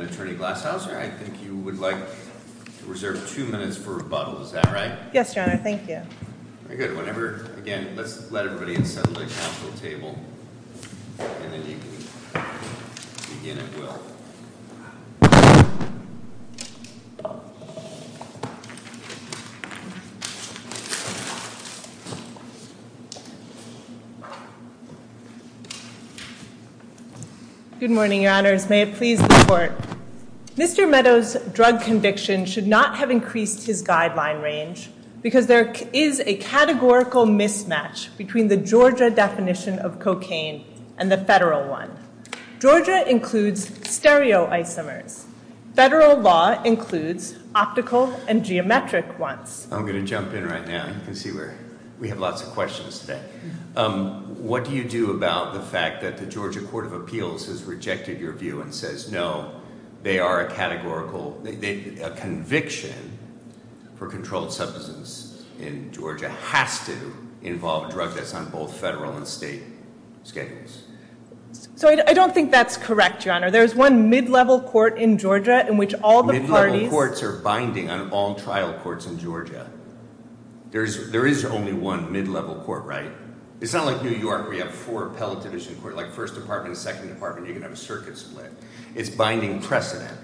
Attorney Glasshouser, I think you would like to reserve two minutes for rebuttal, is that right? Yes, your honor. Thank you. Very good. Okay, whenever, again, let's let everybody settle their counsel table, and then you can begin at will. Good morning, your honors. May it please the court. Mr. Meadows' drug conviction should not have increased his guideline range because there is a categorical mismatch between the Georgia definition of cocaine and the federal one. Georgia includes stereoisomers. Federal law includes optical and geometric ones. I'm going to jump in right now, you can see we have lots of questions today. What do you do about the fact that the Georgia Court of Appeals has rejected your view and says, no, they are a categorical, a conviction for controlled substance in Georgia has to involve a drug that's on both federal and state schedules? So I don't think that's correct, your honor. There's one mid-level court in Georgia in which all the parties- Mid-level courts are binding on all trial courts in Georgia. There is only one mid-level court, right? It's not like New York where you have four appellate division courts, like first department, second department, you can have a circuit split. It's binding precedent,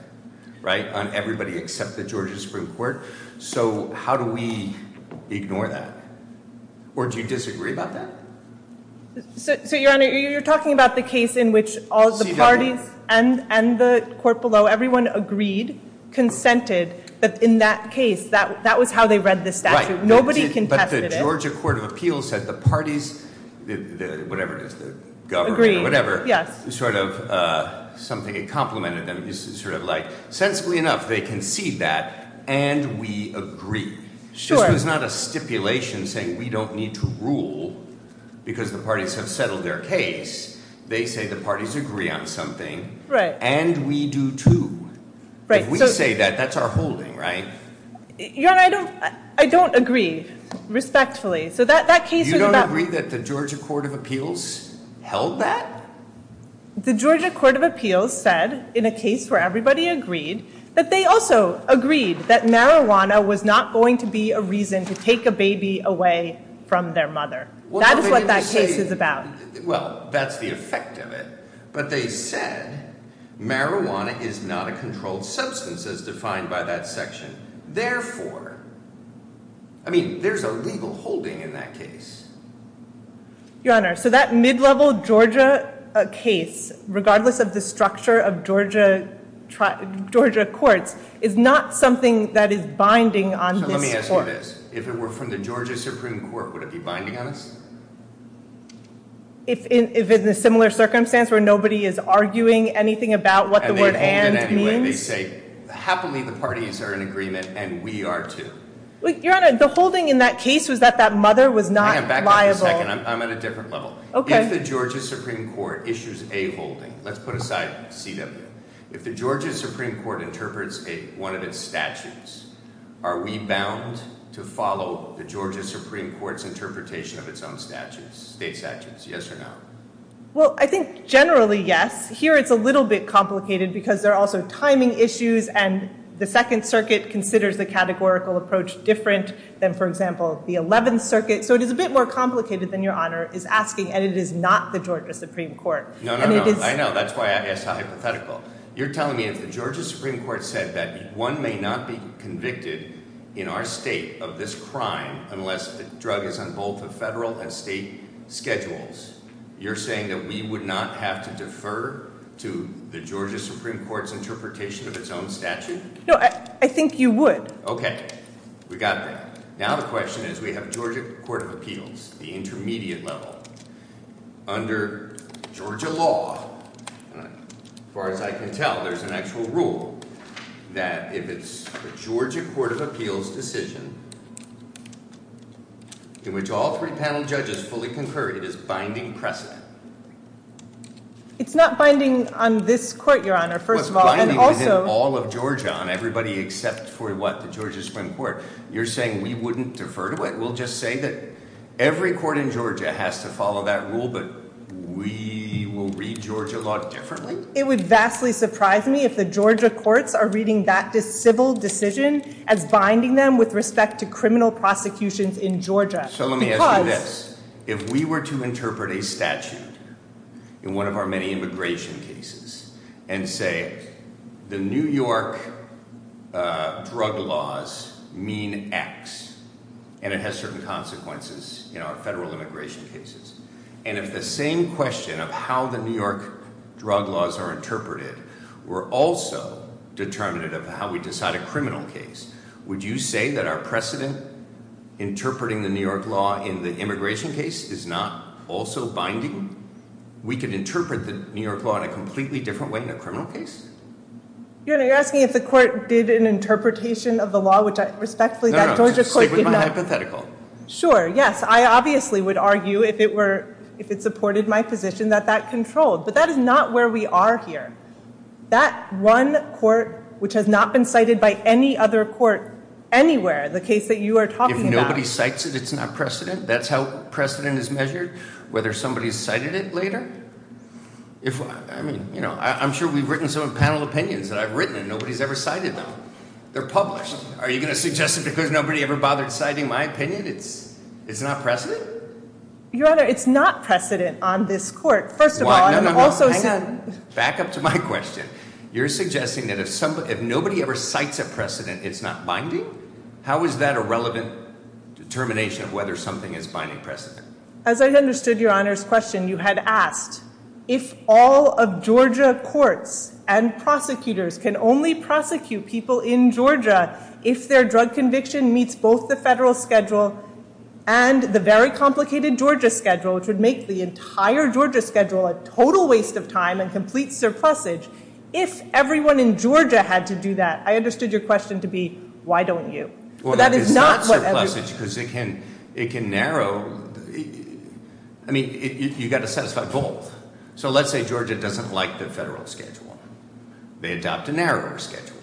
right, on everybody except the Georgia Supreme Court. So how do we ignore that? Or do you disagree about that? So your honor, you're talking about the case in which all the parties and the court below, everyone agreed, consented, that in that case, that was how they read the statute. Nobody contested it. But the Georgia Court of Appeals said the parties, whatever it is, the government, whatever. Sort of something that complimented them is sort of like, sensibly enough, they concede that, and we agree. This was not a stipulation saying we don't need to rule because the parties have settled their case. They say the parties agree on something, and we do too. If we say that, that's our holding, right? Your honor, I don't agree, respectfully. So that case was about- The Georgia Court of Appeals said, in a case where everybody agreed, that they also agreed that marijuana was not going to be a reason to take a baby away from their mother. That is what that case is about. Well, that's the effect of it. But they said, marijuana is not a controlled substance, as defined by that section. Therefore, I mean, there's a legal holding in that case. Your honor, so that mid-level Georgia case, regardless of the structure of Georgia courts, is not something that is binding on this court. So let me ask you this. If it were from the Georgia Supreme Court, would it be binding on us? If in a similar circumstance where nobody is arguing anything about what the word and means? And they hold it anyway. They say, happily, the parties are in agreement, and we are too. Hang on, back up a second. I'm at a different level. If the Georgia Supreme Court issues a holding, let's put aside CW. If the Georgia Supreme Court interprets one of its statutes, are we bound to follow the Georgia Supreme Court's interpretation of its own state statutes? Yes or no? Well, I think, generally, yes. Here, it's a little bit complicated, because there are also timing issues, and the Second Circuit considers the categorical approach different than, for example, the Eleventh Circuit. So it is a bit more complicated than Your Honor is asking, and it is not the Georgia Supreme Court. No, no, no. I know. That's why I asked how hypothetical. You're telling me if the Georgia Supreme Court said that one may not be convicted in our state of this crime unless the drug is on both the federal and state schedules, you're saying that we would not have to defer to the Georgia Supreme Court's interpretation of its own statute? No, I think you would. Okay. We got that. Now the question is, we have Georgia Court of Appeals, the intermediate level. Under Georgia law, as far as I can tell, there's an actual rule that if it's a Georgia Court of Appeals decision in which all three panel judges fully concur, it is binding precedent. It's not binding on this court, Your Honor, first of all. Well, it's binding on all of Georgia, on everybody except for, what, the Georgia Supreme Court. You're saying we wouldn't defer to it. We'll just say that every court in Georgia has to follow that rule, but we will read Georgia law differently? It would vastly surprise me if the Georgia courts are reading that civil decision as binding them with respect to criminal prosecutions in Georgia. So let me ask you this. If we were to interpret a statute in one of our many immigration cases and say the New York drug laws mean X, and it has certain consequences in our federal immigration cases, and if the same question of how the New York drug laws are interpreted were also determinative of how we decide a criminal case, would you say that our precedent interpreting the New York law in the immigration case is not also binding? We could interpret the New York law in a completely different way in a criminal case? Your Honor, you're asking if the court did an interpretation of the law, which I respectfully bet Georgia court did not. No, no, just stick with my hypothetical. Sure, yes. I obviously would argue if it supported my position that that controlled, but that is not where we are here. That one court, which has not been cited by any other court anywhere, the case that you are talking about. If nobody cites it, it's not precedent? That's how precedent is measured? Whether somebody's cited it later? I mean, I'm sure we've written some panel opinions that I've written, and nobody's ever cited them. They're published. Are you going to suggest that because nobody ever bothered citing my opinion, it's not precedent? Your Honor, it's not precedent on this court, first of all. Back up to my question. You're suggesting that if nobody ever cites a precedent, it's not binding? How is that a relevant determination of whether something is binding precedent? As I understood Your Honor's question, you had asked if all of Georgia courts and prosecutors can only prosecute people in Georgia if their drug conviction meets both the federal schedule and the very complicated Georgia schedule, which would make the entire Georgia schedule a total waste of time and complete surplusage. If everyone in Georgia had to do that, I understood your question to be, why don't you? Well, it's not surplusage because it can narrow. I mean, you've got to satisfy both. So let's say Georgia doesn't like the federal schedule. They adopt a narrower schedule,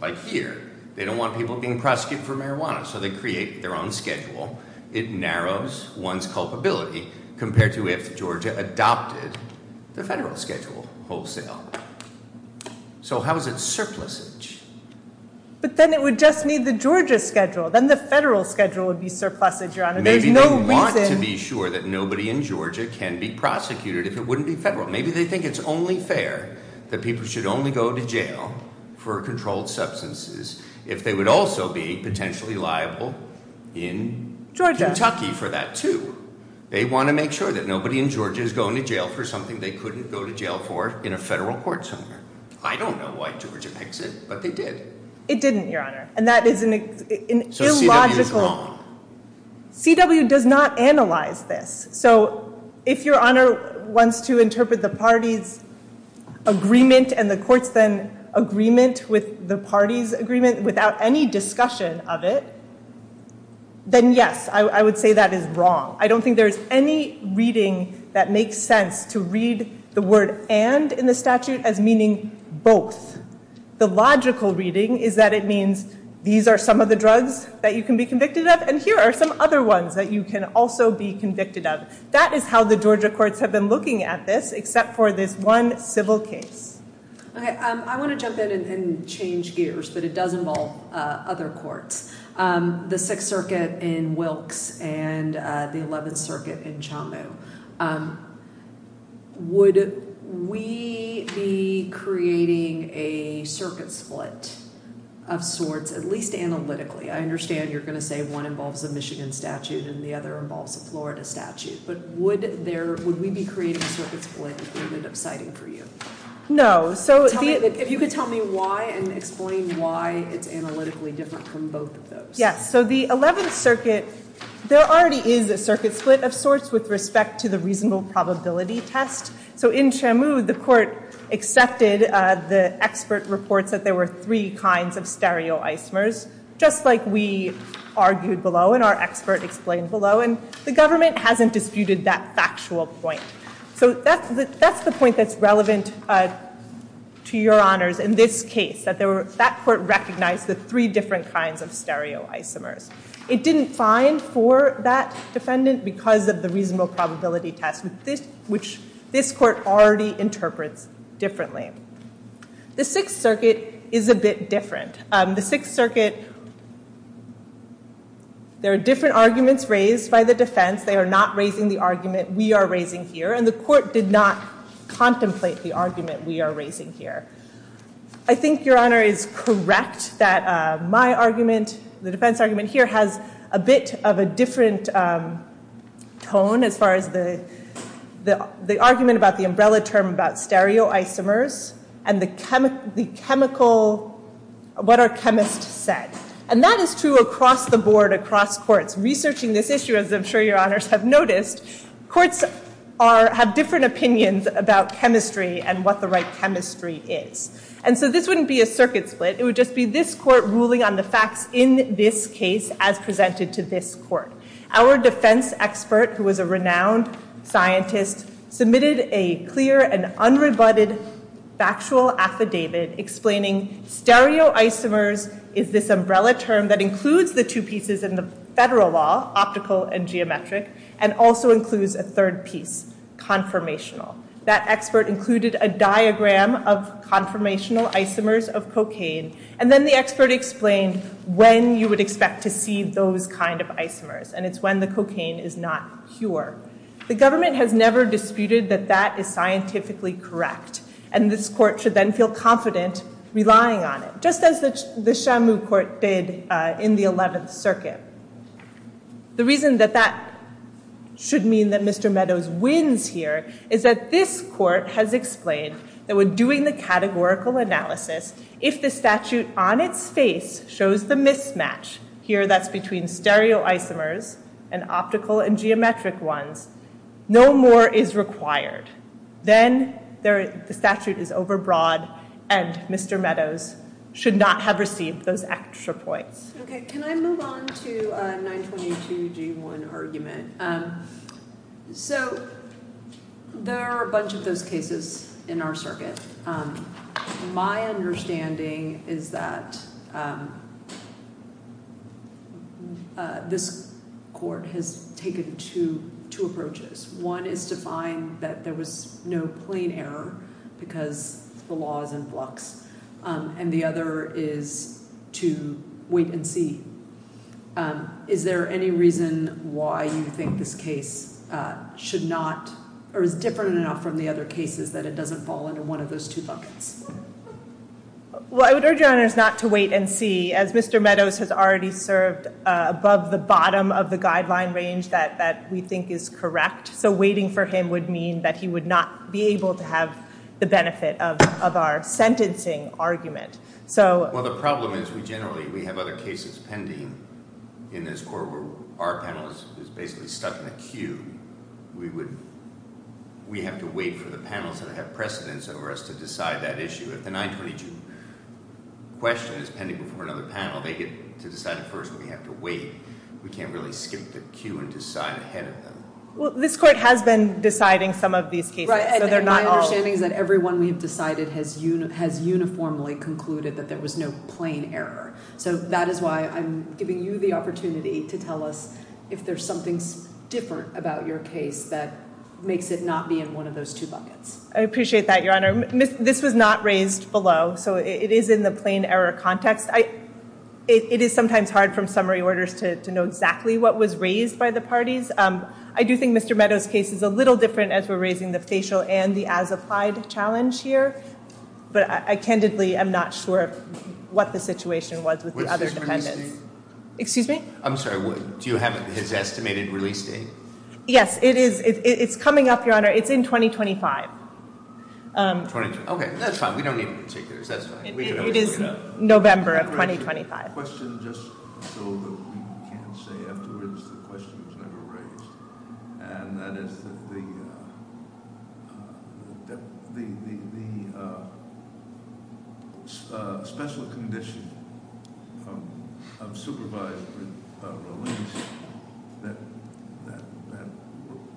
like here. They don't want people being prosecuted for marijuana, so they create their own schedule. It narrows one's culpability compared to if Georgia adopted the federal schedule wholesale. So how is it surplusage? But then it would just need the Georgia schedule. Then the federal schedule would be surplusage, Your Honor. Maybe they want to be sure that nobody in Georgia can be prosecuted if it wouldn't be federal. Maybe they think it's only fair that people should only go to jail for controlled substances if they would also be potentially liable in Kentucky for that, too. They want to make sure that nobody in Georgia is going to jail for something they couldn't go to jail for in a federal court somewhere. I don't know why Georgia picks it, but they did. It didn't, Your Honor, and that is an illogical— So CW is wrong. CW does not analyze this. So if Your Honor wants to interpret the party's agreement and the court's then agreement with the party's agreement without any discussion of it, then yes, I would say that is wrong. I don't think there is any reading that makes sense to read the word and in the statute as meaning both. The logical reading is that it means these are some of the drugs that you can be convicted of, and here are some other ones that you can also be convicted of. That is how the Georgia courts have been looking at this except for this one civil case. I want to jump in and change gears, but it does involve other courts. The Sixth Circuit in Wilkes and the Eleventh Circuit in Chamu. Would we be creating a circuit split of sorts, at least analytically? I understand you're going to say one involves a Michigan statute and the other involves a Florida statute, but would we be creating a circuit split if we would end up citing for you? No. If you could tell me why and explain why it's analytically different from both of those. Yes. So the Eleventh Circuit, there already is a circuit split of sorts with respect to the reasonable probability test. So in Chamu, the court accepted the expert reports that there were three kinds of stereoisomers, just like we argued below and our expert explained below, and the government hasn't disputed that factual point. So that's the point that's relevant to your honors in this case, that that court recognized the three different kinds of stereoisomers. It didn't find for that defendant because of the reasonable probability test, which this court already interprets differently. The Sixth Circuit is a bit different. The Sixth Circuit, there are different arguments raised by the defense. They are not raising the argument we are raising here, and the court did not contemplate the argument we are raising here. I think your honor is correct that my argument, the defense argument here, has a bit of a different tone as far as the argument about the umbrella term about stereoisomers and what are chemists said. And that is true across the board, across courts. Researching this issue, as I'm sure your honors have noticed, courts have different opinions about chemistry and what the right chemistry is. And so this wouldn't be a circuit split. It would just be this court ruling on the facts in this case as presented to this court. Our defense expert, who was a renowned scientist, submitted a clear and unrebutted factual affidavit explaining stereoisomers is this umbrella term that includes the two pieces in the federal law, optical and geometric, and also includes a third piece, conformational. That expert included a diagram of conformational isomers of cocaine, and then the expert explained when you would expect to see those kind of isomers, and it's when the cocaine is not pure. The government has never disputed that that is scientifically correct, and this court should then feel confident relying on it, just as the Shamu court did in the 11th Circuit. The reason that that should mean that Mr. Meadows wins here is that this court has explained that when doing the categorical analysis, if the statute on its face shows the mismatch, here that's between stereoisomers and optical and geometric ones, no more is required. Then the statute is overbroad, and Mr. Meadows should not have received those extra points. Okay, can I move on to 922G1 argument? So there are a bunch of those cases in our circuit. My understanding is that this court has taken two approaches. One is to find that there was no plain error because the law is in flux, and the other is to wait and see. Is there any reason why you think this case should not, or is different enough from the other cases that it doesn't fall under one of those two buckets? Well, I would urge your honors not to wait and see, as Mr. Meadows has already served above the bottom of the guideline range that we think is correct, so waiting for him would mean that he would not be able to have the benefit of our sentencing argument. Well, the problem is we generally have other cases pending in this court where our panel is basically stuck in a queue. We have to wait for the panels that have precedence over us to decide that issue. If the 922 question is pending before another panel, they get to decide it first, but we have to wait. We can't really skip the queue and decide ahead of them. Well, this court has been deciding some of these cases. My understanding is that everyone we have decided has uniformly concluded that there was no plain error, so that is why I'm giving you the opportunity to tell us if there's something different about your case that makes it not be in one of those two buckets. I appreciate that, Your Honor. This was not raised below, so it is in the plain error context. It is sometimes hard from summary orders to know exactly what was raised by the parties. I do think Mr. Meadows' case is a little different as we're raising the facial and the as-applied challenge here, but I candidly am not sure what the situation was with the other defendants. Excuse me? I'm sorry, do you have his estimated release date? Yes, it's coming up, Your Honor. It's in 2025. Okay, that's fine. We don't need particulars. That's fine. It is November of 2025. I have a question just so that we can say afterwards the question was never raised, and that is that the special condition of supervised release that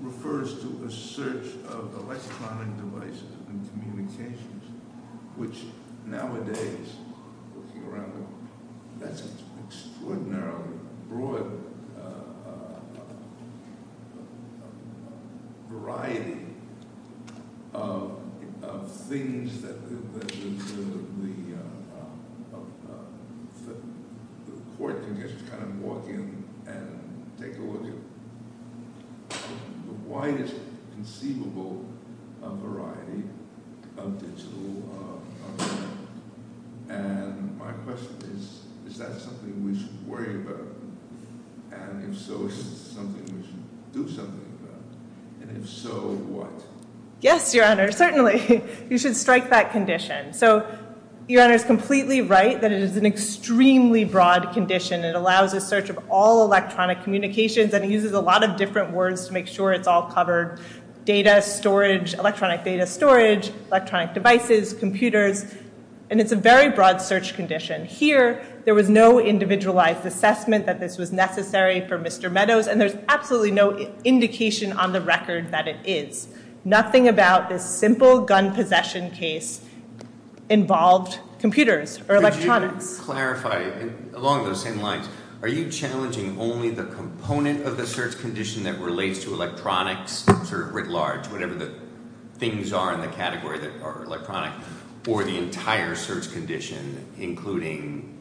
refers to a search of electronic devices and communications, which nowadays, looking around, that's an extraordinarily broad variety of things that the court can just kind of walk in and take a look at. It's the widest conceivable variety of digital. And my question is, is that something we should worry about? And if so, is it something we should do something about? And if so, what? Yes, Your Honor, certainly. You should strike that condition. So Your Honor is completely right that it is an extremely broad condition. It allows a search of all electronic communications, and it uses a lot of different words to make sure it's all covered. Data storage, electronic data storage, electronic devices, computers, and it's a very broad search condition. Here, there was no individualized assessment that this was necessary for Mr. Meadows, and there's absolutely no indication on the record that it is. Just to clarify, along those same lines, are you challenging only the component of the search condition that relates to electronics, sort of writ large, whatever the things are in the category that are electronic, or the entire search condition, including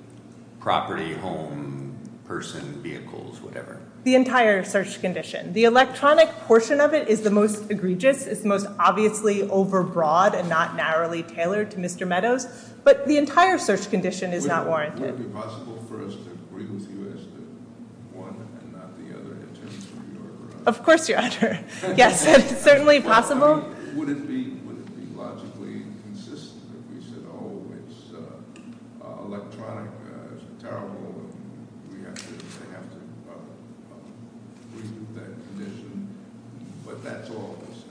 property, home, person, vehicles, whatever? The entire search condition. The electronic portion of it is the most egregious. It's the most obviously overbroad and not narrowly tailored to Mr. Meadows, but the entire search condition is not warranted. Would it be possible for us to agree with you as to one and not the other, in terms of your— Of course, Your Honor. Yes, it's certainly possible. I mean, would it be logically consistent if we said, oh, it's electronic, it's terrible, and we have to agree with that condition? But that's all of a sudden.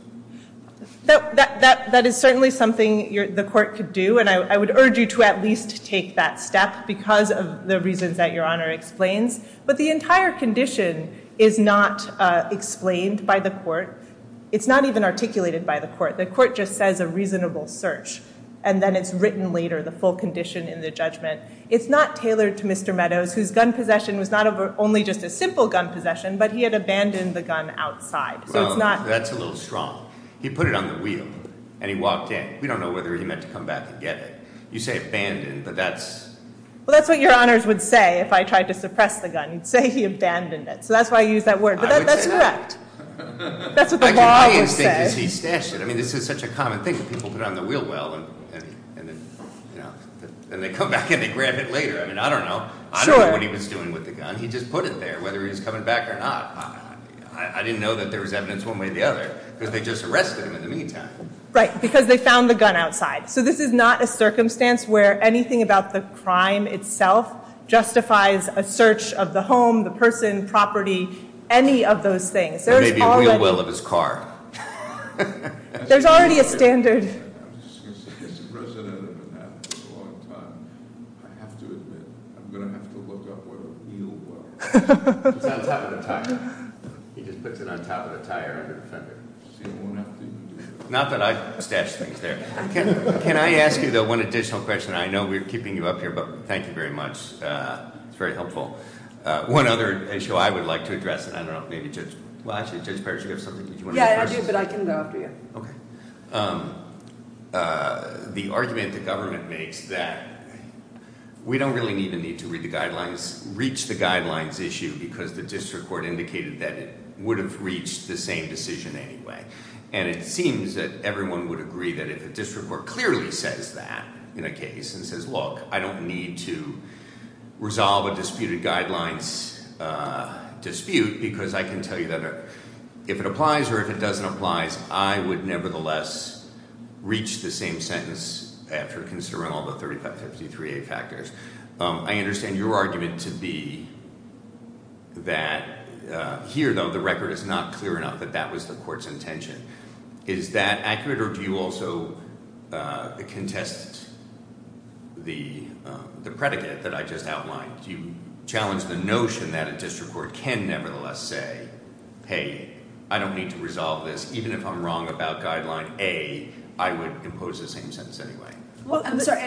That is certainly something the court could do, and I would urge you to at least take that step, because of the reasons that Your Honor explains. But the entire condition is not explained by the court. It's not even articulated by the court. The court just says a reasonable search, and then it's written later, the full condition in the judgment. It's not tailored to Mr. Meadows, whose gun possession was not only just a simple gun possession, but he had abandoned the gun outside. So it's not— Well, that's a little strong. He put it on the wheel, and he walked in. We don't know whether he meant to come back and get it. You say abandoned, but that's— Well, that's what Your Honors would say if I tried to suppress the gun. You'd say he abandoned it. So that's why I used that word. I would say that. But that's correct. That's what the law would say. My instinct is he stashed it. I mean, this is such a common thing. People put it on the wheel well, and then they come back and they grab it later. I mean, I don't know. Sure. I don't know what he was doing with the gun. He just put it there, whether he was coming back or not. I didn't know that there was evidence one way or the other, because they just arrested him in the meantime. Right, because they found the gun outside. So this is not a circumstance where anything about the crime itself justifies a search of the home, the person, property, any of those things. Or maybe a wheel well of his car. There's already a standard. I was just going to say, as the president of Manhattan for a long time, I have to admit, I'm going to have to look up where a wheel well is. It's on top of the tire. He just puts it on top of the tire under the fender. Not that I stashed things there. Can I ask you, though, one additional question? I know we're keeping you up here, but thank you very much. It's very helpful. One other issue I would like to address, and I don't know if maybe Judge, well, actually, Judge Parrish, you have something? Yeah, I do, but I can go after you. Okay. The argument the government makes that we don't really need to read the guidelines, reach the guidelines issue because the district court indicated that it would have reached the same decision anyway. And it seems that everyone would agree that if a district court clearly says that in a case and says, look, I don't need to resolve a disputed guidelines dispute because I can tell you that if it applies or if it doesn't apply, I would nevertheless reach the same sentence after considering all the 3553A factors. I understand your argument to be that here, though, the record is not clear enough that that was the court's intention. Is that accurate, or do you also contest the predicate that I just outlined? Do you challenge the notion that a district court can nevertheless say, hey, I don't need to resolve this. Even if I'm wrong about guideline A, I would impose the same sentence anyway. I'm sorry.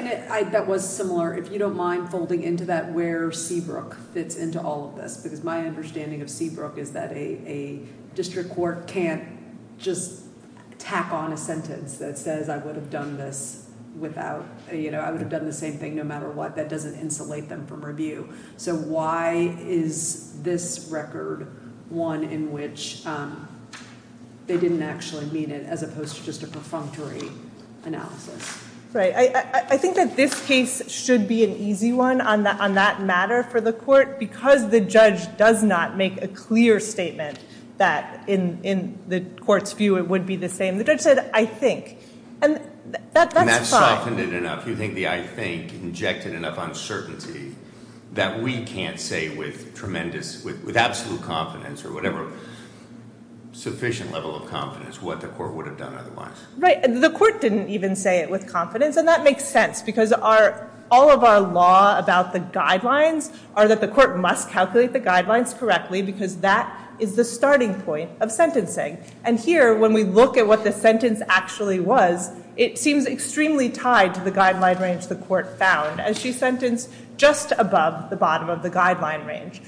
That was similar. If you don't mind folding into that where Seabrook fits into all of this because my understanding of Seabrook is that a district court can't just tack on a sentence that says I would have done the same thing no matter what. That doesn't insulate them from review. So why is this record one in which they didn't actually mean it as opposed to just a perfunctory analysis? Right. I think that this case should be an easy one on that matter for the court because the judge does not make a clear statement that in the court's view it would be the same. The judge said, I think. And that's fine. And that softened it enough. You think the I think injected enough uncertainty that we can't say with absolute confidence or whatever sufficient level of confidence what the court would have done otherwise. Right. The court didn't even say it with confidence. And that makes sense because all of our law about the guidelines are that the court must calculate the guidelines correctly because that is the starting point of sentencing. And here, when we look at what the sentence actually was, it seems extremely tied to the guideline range the court found as she sentenced just above the bottom of the guideline range.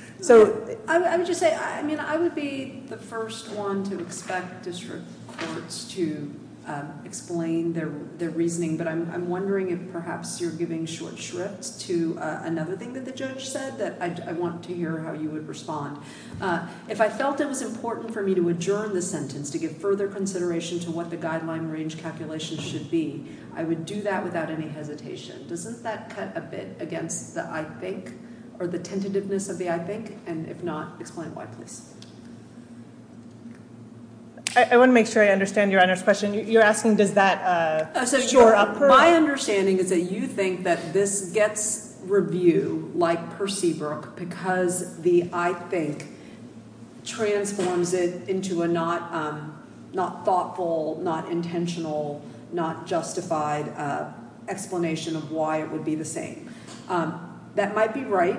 I would just say I would be the first one to expect district courts to explain their reasoning, but I'm wondering if perhaps you're giving short shrift to another thing that the judge said that I want to hear how you would respond. If I felt it was important for me to adjourn the sentence to give further consideration to what the guideline range calculation should be, I would do that without any hesitation. Doesn't that cut a bit against the I think or the tentativeness of the I think? And if not, explain why, please. I want to make sure I understand Your Honor's question. You're asking does that shore up her? My understanding is that you think that this gets review like Percy Brook because the I think transforms it into a not thoughtful, not intentional, not justified explanation of why it would be the same. That might be right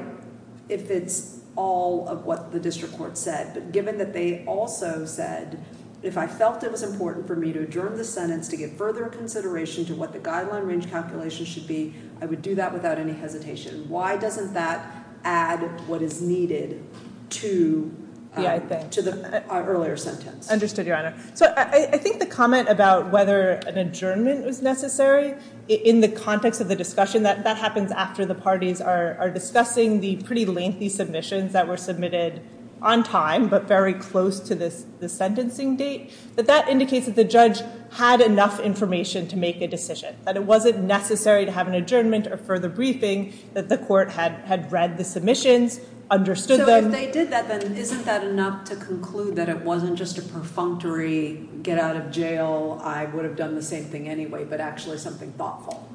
if it's all of what the district court said, but given that they also said if I felt it was important for me to adjourn the sentence to get further consideration to what the guideline range calculation should be, I would do that without any hesitation. Why doesn't that add what is needed to the earlier sentence? Understood, Your Honor. So I think the comment about whether an adjournment was necessary in the context of the discussion that happens after the parties are discussing the pretty lengthy submissions that were submitted on time but very close to the sentencing date, that that indicates that the judge had enough information to make a decision, that it wasn't necessary to have an adjournment or further briefing, that the court had read the submissions, understood them. So if they did that, then isn't that enough to conclude that it wasn't just a perfunctory get out of jail, I would have done the same thing anyway, but actually something thoughtful?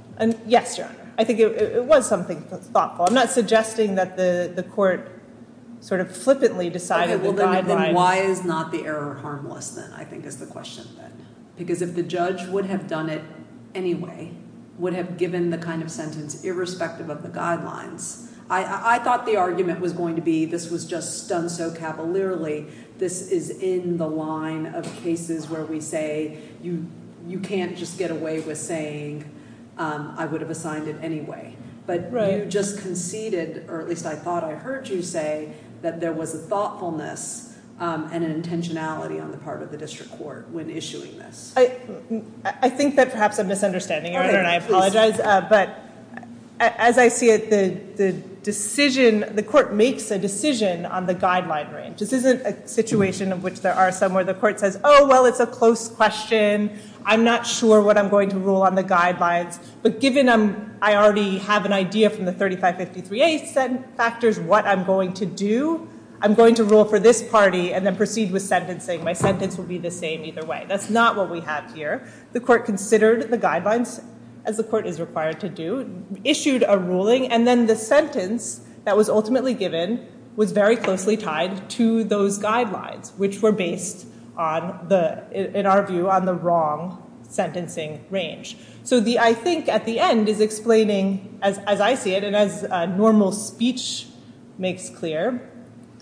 Yes, Your Honor. I think it was something thoughtful. I'm not suggesting that the court sort of flippantly decided the guidelines. Okay. Well, then why is not the error harmless then, I think is the question. Because if the judge would have done it anyway, would have given the kind of sentence irrespective of the guidelines, I thought the argument was going to be this was just done so cavalierly, this is in the line of cases where we say you can't just get away with saying I would have assigned it anyway. But you just conceded, or at least I thought I heard you say, that there was a thoughtfulness and an intentionality on the part of the district court when issuing this. I think that perhaps I'm misunderstanding, Your Honor, and I apologize. But as I see it, the decision, the court makes a decision on the guideline range. This isn't a situation of which there are some where the court says, oh, well, it's a close question. I'm not sure what I'm going to rule on the guidelines. But given I already have an idea from the 3553A factors what I'm going to do, I'm going to rule for this party and then proceed with sentencing. My sentence will be the same either way. That's not what we have here. The court considered the guidelines as the court is required to do, issued a ruling, and then the sentence that was ultimately given was very closely tied to those guidelines, which were based, in our view, on the wrong sentencing range. So I think at the end is explaining, as I see it, and as normal speech makes clear,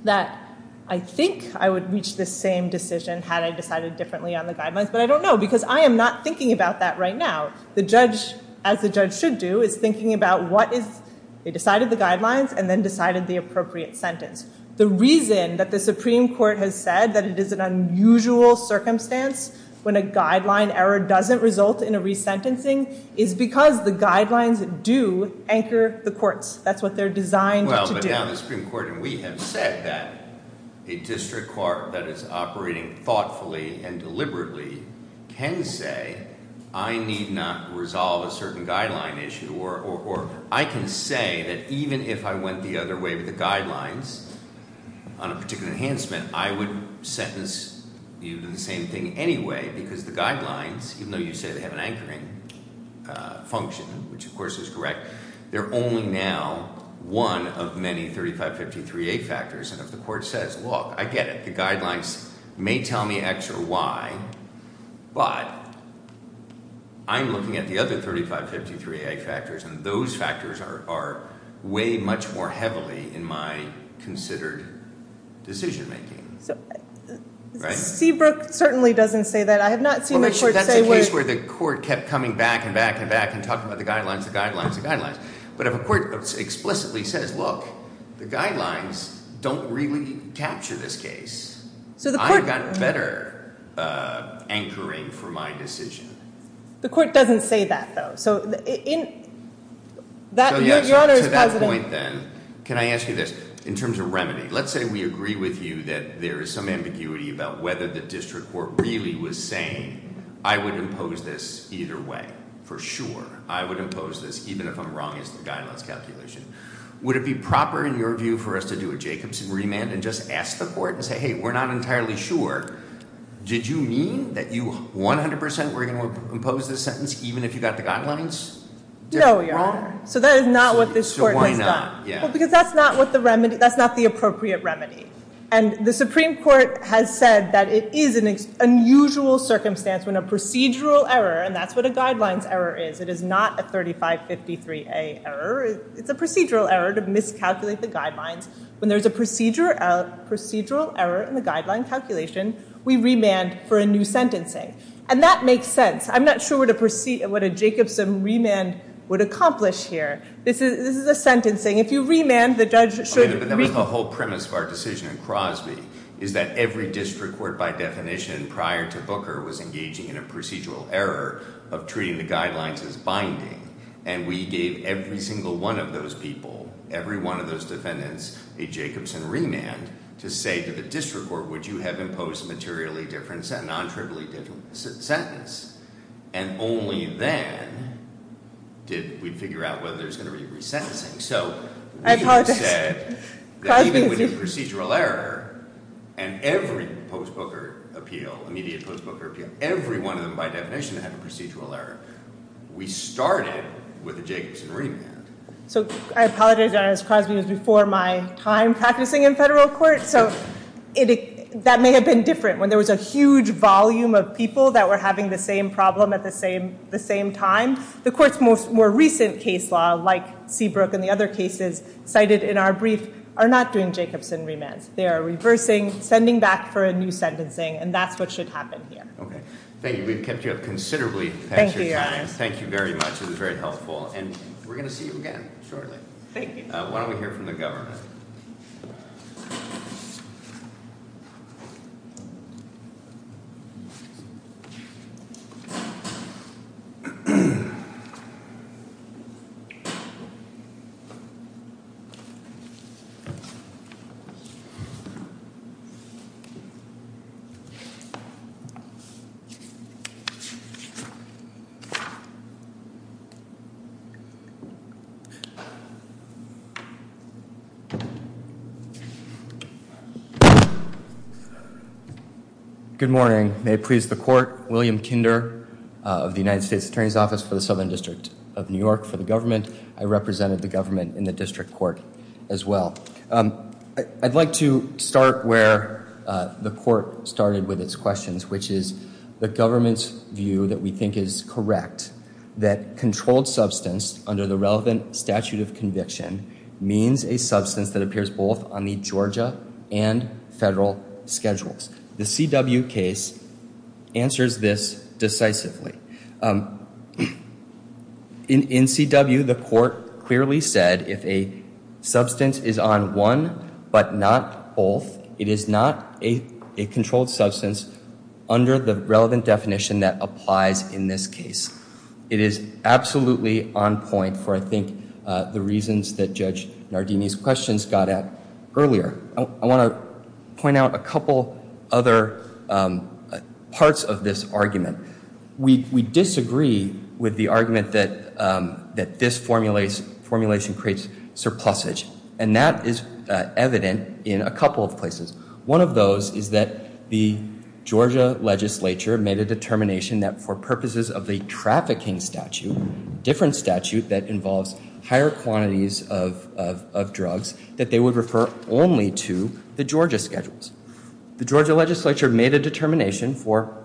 that I think I would reach this same decision had I decided differently on the guidelines. But I don't know, because I am not thinking about that right now. The judge, as the judge should do, is thinking about what is, they decided the guidelines and then decided the appropriate sentence. The reason that the Supreme Court has said that it is an unusual circumstance when a guideline error doesn't result in a resentencing is because the guidelines do anchor the courts. That's what they're designed to do. Well, but now the Supreme Court, and we have said that, a district court that is operating thoughtfully and deliberately can say, I need not resolve a certain guideline issue or I can say that even if I went the other way with the guidelines on a particular enhancement, I would sentence you to the same thing anyway because the guidelines, even though you say they have an anchoring function, which, of course, is correct, they're only now one of many 3553A factors. And if the court says, look, I get it. The guidelines may tell me X or Y, but I'm looking at the other 3553A factors and those factors weigh much more heavily in my considered decision making. Seabrook certainly doesn't say that. I have not seen the court say that. That's a case where the court kept coming back and back and back and talking about the guidelines, the guidelines, the guidelines. But if a court explicitly says, look, the guidelines don't really capture this case, I've got better anchoring for my decision. The court doesn't say that, though. So to that point, then, can I ask you this? In terms of remedy, let's say we agree with you that there is some ambiguity about whether the district court really was saying, I would impose this either way for sure. I would impose this even if I'm wrong as the guidelines calculation. Would it be proper in your view for us to do a Jacobson remand and just ask the court and say, hey, we're not entirely sure? Did you mean that you 100% were going to impose this sentence even if you got the guidelines wrong? No, Your Honor. So that is not what this court has done. So why not? Because that's not the appropriate remedy. And the Supreme Court has said that it is an unusual circumstance when a procedural error, and that's what a guidelines error is, it is not a 3553A error. It's a procedural error to miscalculate the guidelines. When there's a procedural error in the guideline calculation, we remand for a new sentencing. And that makes sense. I'm not sure what a Jacobson remand would accomplish here. This is a sentencing. If you remand, the judge should remand. But that was the whole premise of our decision in Crosby, is that every district court by definition prior to Booker was engaging in a procedural error of treating the guidelines as binding. And we gave every single one of those people, a Jacobson remand to say to the district court, would you have imposed a materially different, non-trivially different sentence? And only then did we figure out whether there's going to be resentencing. So we said that even with the procedural error, and every post-Booker appeal, immediate post-Booker appeal, every one of them by definition had a procedural error. We started with a Jacobson remand. So I apologize, Your Honor, because Crosby was before my time practicing in federal court. So that may have been different. When there was a huge volume of people that were having the same problem at the same time, the court's most more recent case law, like Seabrook and the other cases cited in our brief, are not doing Jacobson remands. They are reversing, sending back for a new sentencing, and that's what should happen here. Okay. Thank you. We've kept you up considerably. Thank you, Your Honor. Thank you very much. This is very helpful. And we're going to see you again shortly. Thank you. Why don't we hear from the government? Good morning. May it please the court, William Kinder of the United States Attorney's Office for the Southern District of New York for the government. I represented the government in the district court as well. I'd like to start where the court started with its questions, which is the government's view that we think is correct, that controlled substance under the relevant statute of conviction means a substance that appears both on the Georgia and federal schedules. The CW case answers this decisively. In CW, the court clearly said if a substance is on one but not both, it is not a controlled substance under the relevant definition that applies in this case. It is absolutely on point for, I think, the reasons that Judge Nardini's questions got at earlier. I want to point out a couple other parts of this argument. We disagree with the argument that this formulation creates surplusage, and that is evident in a couple of places. One of those is that the Georgia legislature made a determination that for purposes of the trafficking statute, different statute that involves higher quantities of drugs, that they would refer only to the Georgia schedules. The Georgia legislature made a determination for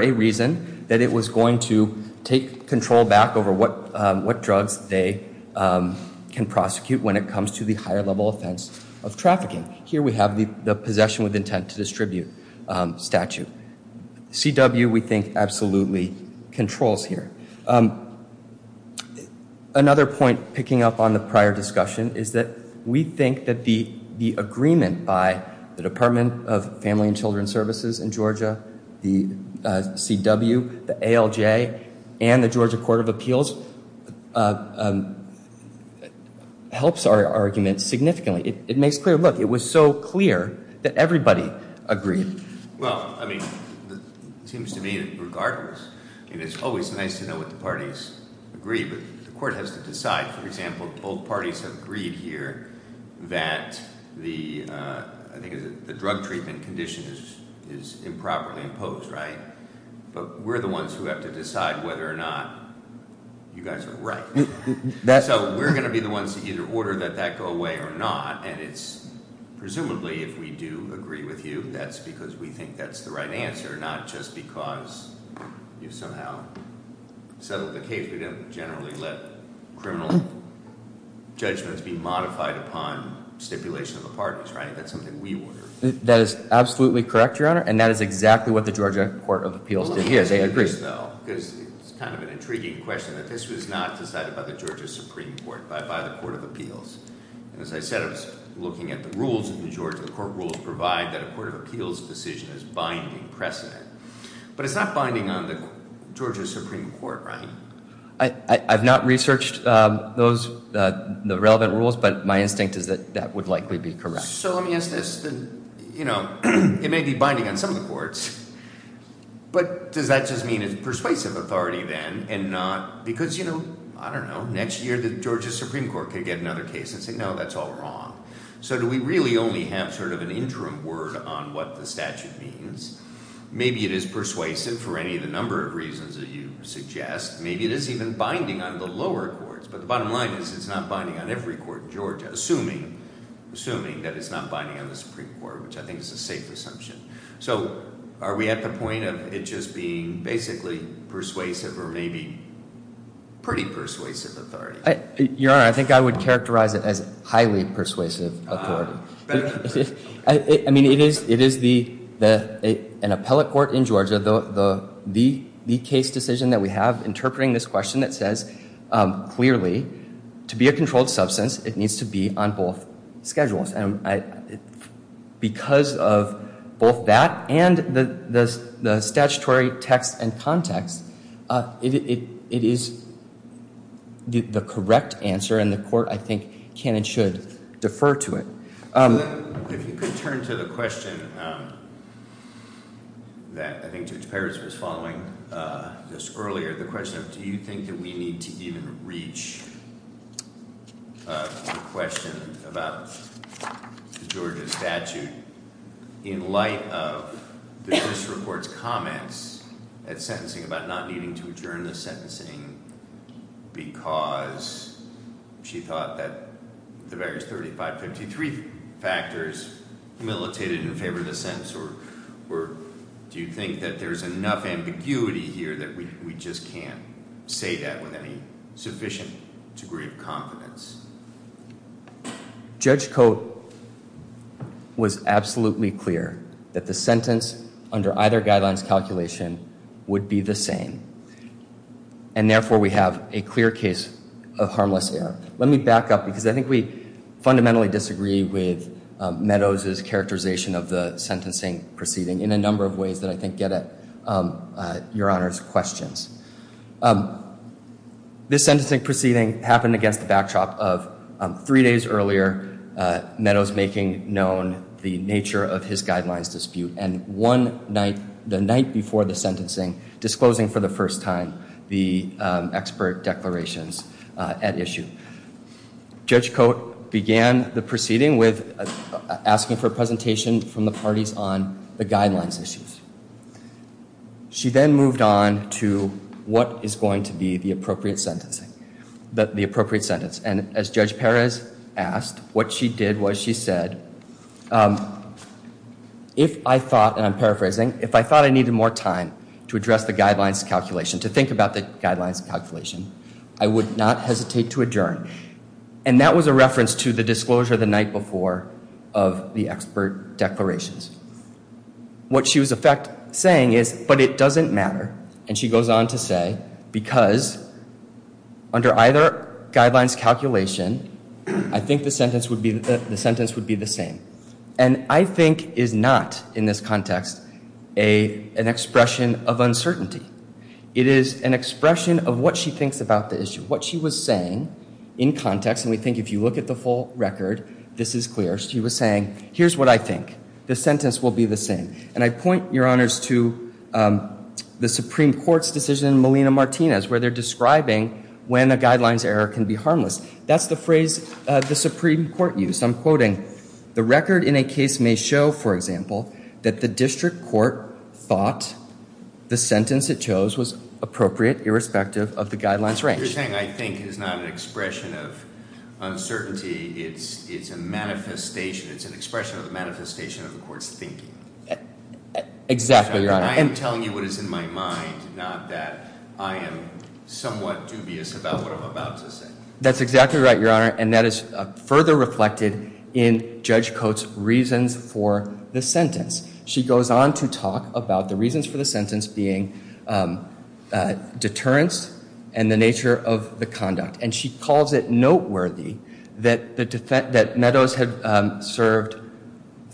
a reason that it was going to take control back over what drugs they can prosecute when it comes to the higher level offense of trafficking. Here we have the possession with intent to distribute statute. CW, we think, absolutely controls here. Another point picking up on the prior discussion is that we think that the agreement by the Department of Family and Children's Services in Georgia, the CW, the ALJ, and the Georgia Court of Appeals, helps our argument significantly. It makes clear, look, it was so clear that everybody agreed. Well, I mean, it seems to me that regardless, it is always nice to know what the parties agree, but the court has to decide. For example, both parties have agreed here that the drug treatment condition is improperly imposed, right? But we're the ones who have to decide whether or not you guys are right. So we're going to be the ones to either order that that go away or not, and it's presumably if we do agree with you, that's because we think that's the right answer, not just because you somehow settled the case. We don't generally let criminal judgments be modified upon stipulation of the parties, right? That's something we order. That is absolutely correct, Your Honor, and that is exactly what the Georgia Court of Appeals did. It's kind of an intriguing question. This was not decided by the Georgia Supreme Court, by the Court of Appeals. As I said, I was looking at the rules of the Georgia Court of Appeals provide that a Court of Appeals decision is binding precedent, but it's not binding on the Georgia Supreme Court, right? I've not researched the relevant rules, but my instinct is that that would likely be correct. So let me ask this. You know, it may be binding on some of the courts, but does that just mean it's persuasive authority then and not because, you know, I don't know, next year the Georgia Supreme Court could get another case and say, no, that's all wrong. So do we really only have sort of an interim word on what the statute means? Maybe it is persuasive for any of the number of reasons that you suggest. Maybe it is even binding on the lower courts, but the bottom line is it's not binding on every court in Georgia, assuming that it's not binding on the Supreme Court, which I think is a safe assumption. So are we at the point of it just being basically persuasive or maybe pretty persuasive authority? Your Honor, I think I would characterize it as highly persuasive authority. Better than persuasive. I mean, it is an appellate court in Georgia. The case decision that we have interpreting this question that says clearly to be a controlled substance, it needs to be on both schedules. Because of both that and the statutory text and context, it is the correct answer and the court, I think, can and should defer to it. If you could turn to the question that I think Judge Perez was following just earlier, the question of do you think that we need to even reach the question about the Georgia statute in light of the disreport's comments at sentencing about not needing to adjourn the sentencing because she thought that the various 3553 factors militated in favor of the sentence or do you think that there's enough ambiguity here that we just can't say that with any sufficient degree of confidence? Judge Cote was absolutely clear that the sentence under either guideline's calculation would be the same and therefore we have a clear case of harmless error. Let me back up because I think we fundamentally disagree with Meadows' characterization of the sentencing proceeding in a number of ways that I think get at Your Honor's questions. This sentencing proceeding happened against the backdrop of three days earlier, Meadows making known the nature of his guidelines dispute and one night, the night before the sentencing, disclosing for the first time the expert declarations at issue. Judge Cote began the proceeding with asking for a presentation from the parties on the guidelines issues. She then moved on to what is going to be the appropriate sentence. And as Judge Perez asked, what she did was she said, if I thought, and I'm paraphrasing, if I thought I needed more time to address the guidelines calculation, to think about the guidelines calculation, I would not hesitate to adjourn. And that was a reference to the disclosure the night before of the expert declarations. What she was in fact saying is, but it doesn't matter, and she goes on to say, because under either guideline's calculation, I think the sentence would be the same. And I think is not, in this context, an expression of uncertainty. It is an expression of what she thinks about the issue, what she was saying in context, and we think if you look at the full record, this is clear. She was saying, here's what I think, the sentence will be the same. And I point, Your Honors, to the Supreme Court's decision in Molina-Martinez, where they're describing when a guideline's error can be harmless. That's the phrase the Supreme Court used. I'm quoting, the record in a case may show, for example, that the district court thought the sentence it chose was appropriate irrespective of the guideline's range. You're saying I think is not an expression of uncertainty. It's an expression of the manifestation of the court's thinking. Exactly, Your Honor. I am telling you what is in my mind, not that I am somewhat dubious about what I'm about to say. That's exactly right, Your Honor, and that is further reflected in Judge Coates' reasons for the sentence. She goes on to talk about the reasons for the sentence being deterrence and the nature of the conduct. And she calls it noteworthy that Meadows had served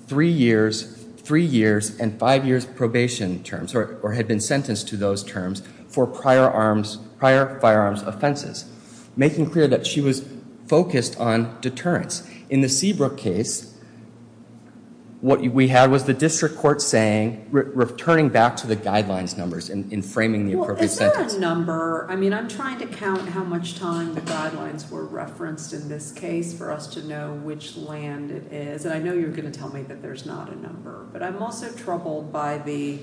three years and five years probation terms, or had been sentenced to those terms, for prior firearms offenses. Making clear that she was focused on deterrence. In the Seabrook case, what we had was the district court saying, returning back to the guideline's numbers and framing the appropriate sentence. Well, is there a number? I mean, I'm trying to count how much time the guidelines were referenced in this case for us to know which land it is. And I know you're going to tell me that there's not a number. But I'm also troubled by the...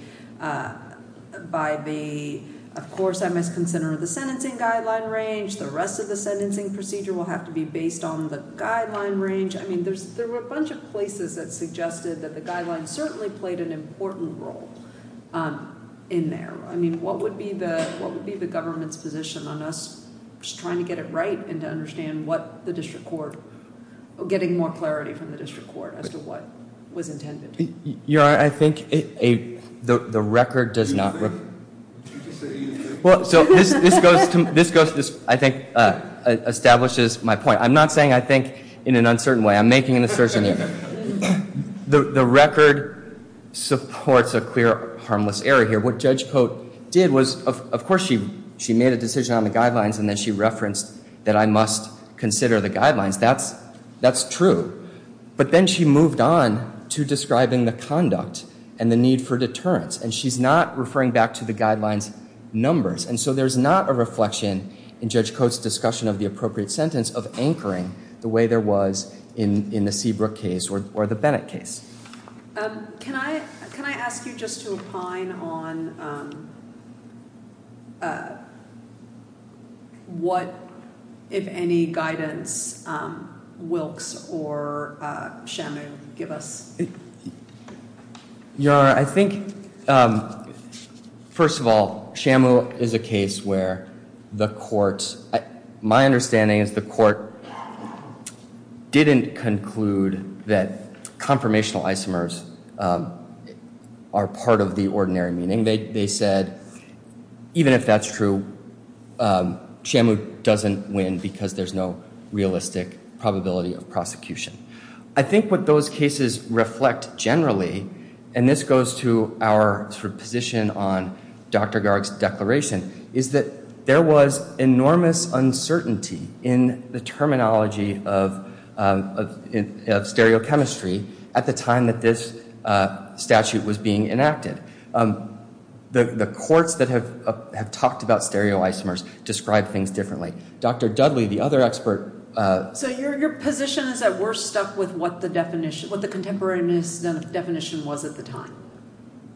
of course, I must consider the sentencing guideline range. The rest of the sentencing procedure will have to be based on the guideline range. I mean, there were a bunch of places that suggested that the guidelines certainly played an important role in there. I mean, what would be the government's position on us trying to get it right and to understand what the district court... getting more clarity from the district court as to what was intended? Your Honor, I think the record does not... Did you just say anything? Well, so this goes to... this, I think, establishes my point. I'm not saying I think in an uncertain way. I'm making an assertion that the record supports a clear harmless error here. What Judge Cote did was, of course, she made a decision on the guidelines and then she referenced that I must consider the guidelines. That's true. But then she moved on to describing the conduct and the need for deterrence. And she's not referring back to the guidelines numbers. And so there's not a reflection in Judge Cote's discussion of the appropriate sentence of anchoring the way there was in the Seabrook case or the Bennett case. Can I ask you just to opine on what, if any, guidance Wilkes or Shamu give us? Your Honor, I think, first of all, Shamu is a case where the courts... are part of the ordinary meeting. They said, even if that's true, Shamu doesn't win because there's no realistic probability of prosecution. I think what those cases reflect generally, and this goes to our position on Dr. Garg's declaration, is that there was enormous uncertainty in the terminology of stereochemistry at the time that this statute was being enacted. The courts that have talked about stereoisomers describe things differently. Dr. Dudley, the other expert... So your position is that we're stuck with what the definition... what the contemporaneous definition was at the time.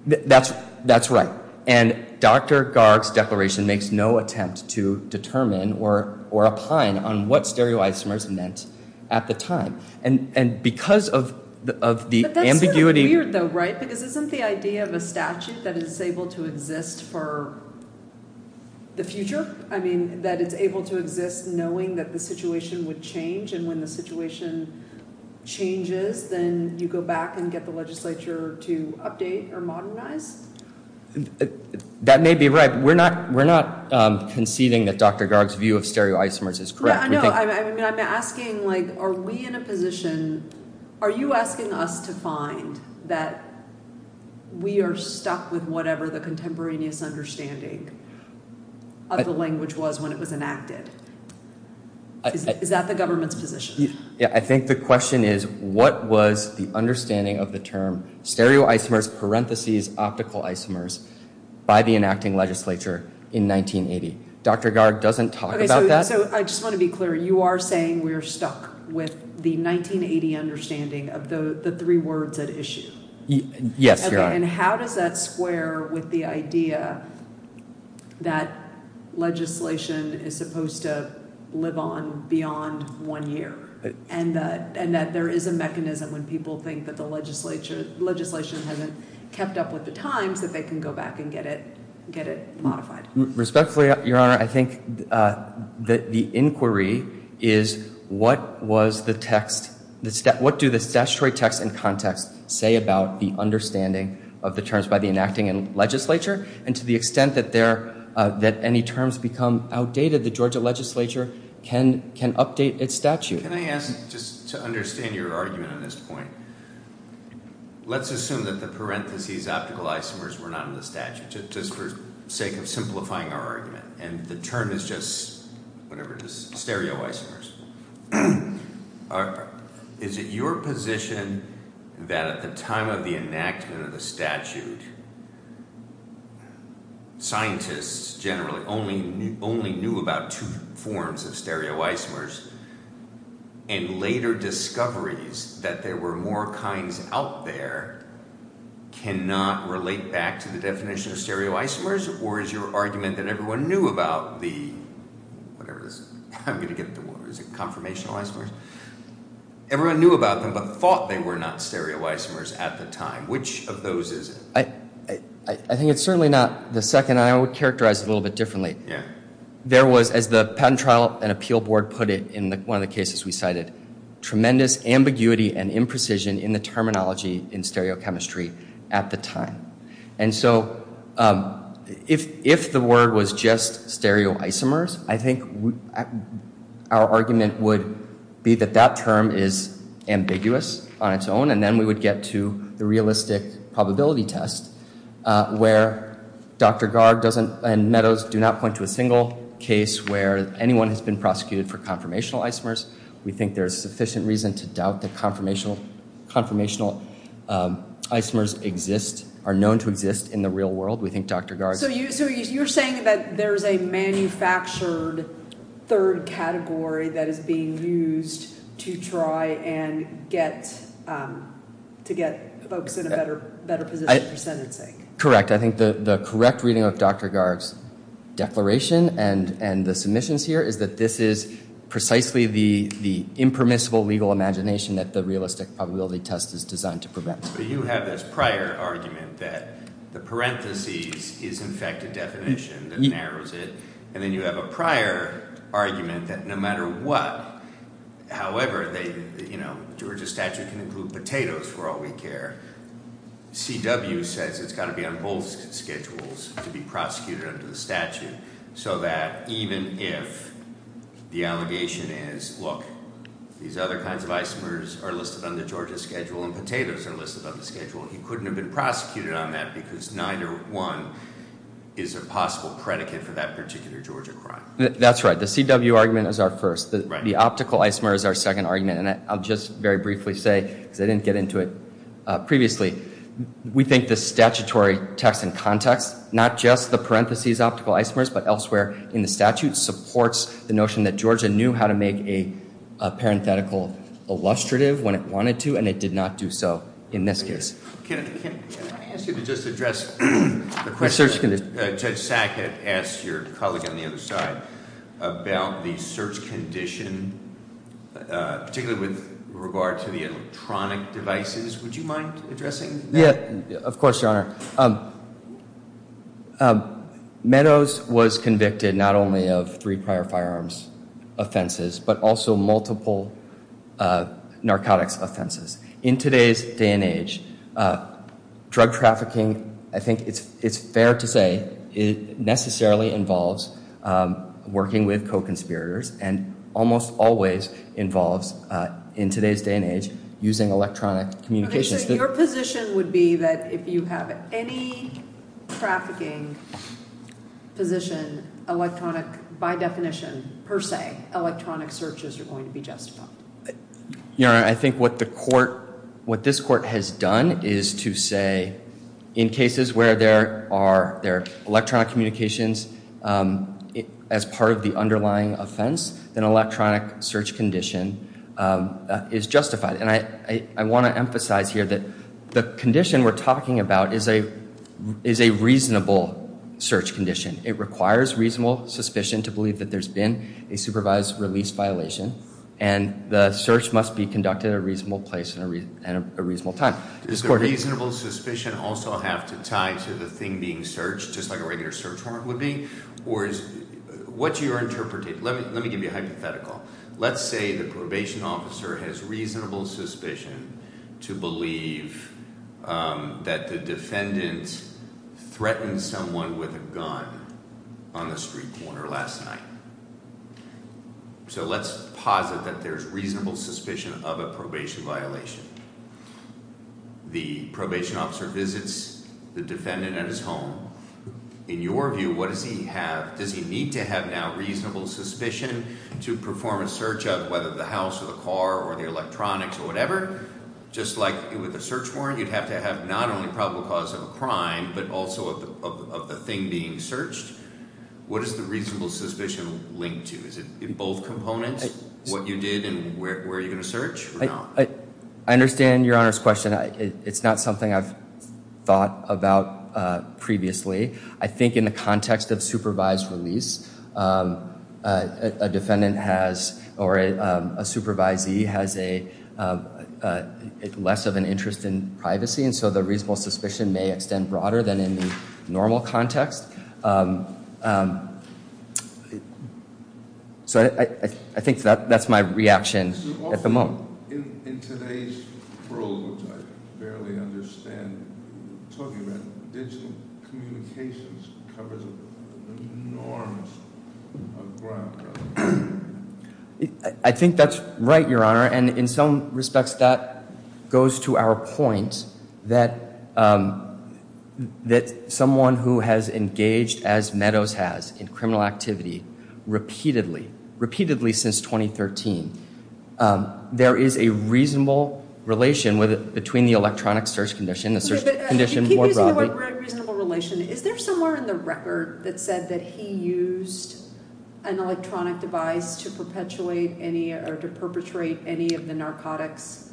That's right. And Dr. Garg's declaration makes no attempt to determine or opine on what stereoisomers meant at the time. And because of the ambiguity... But that's sort of weird though, right? Because isn't the idea of a statute that is able to exist for the future? I mean, that it's able to exist knowing that the situation would change, and when the situation changes, then you go back and get the legislature to update or modernize? That may be right. We're not conceding that Dr. Garg's view of stereoisomers is correct. No, I know. I mean, I'm asking, like, are we in a position... Are you asking us to find that we are stuck with whatever the contemporaneous understanding of the language was when it was enacted? Is that the government's position? I think the question is, what was the understanding of the term stereoisomers, parentheses, optical isomers, by the enacting legislature in 1980? Dr. Garg doesn't talk about that. Okay, so I just want to be clear. You are saying we are stuck with the 1980 understanding of the three words at issue? Yes, Your Honor. And how does that square with the idea that legislation is supposed to live on beyond one year, and that there is a mechanism when people think that the legislation hasn't kept up with the times that they can go back and get it modified? Respectfully, Your Honor, I think that the inquiry is, what was the text... What do the statutory text and context say about the understanding of the terms by the enacting legislature? And to the extent that any terms become outdated, the Georgia legislature can update its statute. Can I ask, just to understand your argument on this point, let's assume that the parentheses, optical isomers were not in the statute, just for the sake of simplifying our argument, and the term is just, whatever it is, stereoisomers. Is it your position that at the time of the enactment of the statute, scientists generally only knew about two forms of stereoisomers, and later discoveries that there were more kinds out there cannot relate back to the definition of stereoisomers? Or is your argument that everyone knew about the... Whatever it is. I'm going to get the... Is it conformational isomers? Everyone knew about them, but thought they were not stereoisomers at the time. Which of those is it? I think it's certainly not the second, and I would characterize it a little bit differently. There was, as the Patent Trial and Appeal Board put it in one of the cases we cited, tremendous ambiguity and imprecision in the terminology in stereochemistry at the time. And so, if the word was just stereoisomers, I think our argument would be that that term is ambiguous on its own, and then we would get to the realistic probability test, where Dr. Garg and Meadows do not point to a single case where anyone has been prosecuted for conformational isomers. We think there is sufficient reason to doubt that conformational isomers exist, are known to exist in the real world. We think Dr. Garg... So you're saying that there's a manufactured third category that is being used to try and get folks in a better position for sentencing? Correct. I think the correct reading of Dr. Garg's declaration and the submissions here is that this is precisely the impermissible legal imagination that the realistic probability test is designed to prevent. So you have this prior argument that the parentheses is in fact a definition that narrows it, and then you have a prior argument that no matter what, however, they... you know, Georgia statute can include potatoes for all we care. C.W. says it's got to be on both schedules to be prosecuted under the statute, so that even if the allegation is, look, these other kinds of isomers are listed on the Georgia schedule and potatoes are listed on the schedule, he couldn't have been prosecuted on that because neither one is a possible predicate for that particular Georgia crime. That's right. The C.W. argument is our first. The optical isomer is our second argument, and I'll just very briefly say, because I didn't get into it previously, we think the statutory text and context, not just the parentheses optical isomers, but elsewhere in the statute, supports the notion that Georgia knew how to make a parenthetical illustrative when it wanted to, and it did not do so in this case. Can I ask you to just address the question Judge Sackett asked your colleague on the other side about the search condition, particularly with regard to the electronic devices? Would you mind addressing that? Of course, Your Honor. Meadows was convicted not only of three prior firearms offenses, but also multiple narcotics offenses. In today's day and age, drug trafficking, I think it's fair to say, necessarily involves working with co-conspirators and almost always involves, in today's day and age, using electronic communications. Your position would be that if you have any trafficking position, electronic, by definition, per se, electronic searches are going to be justified? Your Honor, I think what this court has done is to say, in cases where there are electronic communications as part of the underlying offense, an electronic search condition is justified. And I want to emphasize here that the condition we're talking about is a reasonable search condition. It requires reasonable suspicion to believe that there's been a supervised release violation, and the search must be conducted at a reasonable place and a reasonable time. Does the reasonable suspicion also have to tie to the thing being searched, just like a regular search warrant would be? What's your interpretation? Let me give you a hypothetical. Let's say the probation officer has reasonable suspicion to believe that the defendant threatened someone with a gun on the street corner last night. So let's posit that there's reasonable suspicion of a probation violation. The probation officer visits the defendant at his home. In your view, does he need to have now reasonable suspicion to perform a search of whether the house or the car or the electronics or whatever? Just like with a search warrant, you'd have to have not only probable cause of a crime, but also of the thing being searched. What does the reasonable suspicion link to? Is it both components, what you did and where you're going to search? I understand Your Honor's question. It's not something I've thought about previously. I think in the context of supervised release, a defendant or a supervisee has less of an interest in privacy, and so the reasonable suspicion may extend broader than in the normal context. So I think that's my reaction at the moment. In today's world, which I barely understand, I'm talking about digital communications covers an enormous amount of ground. I think that's right, Your Honor. And in some respects, that goes to our point that someone who has engaged, as Meadows has, in criminal activity repeatedly, repeatedly since 2013, there is a reasonable relation between the electronic search condition and the search condition more broadly. You keep using the word reasonable relation. Is there somewhere in the record that said that he used an electronic device to perpetuate any or to perpetrate any of the narcotics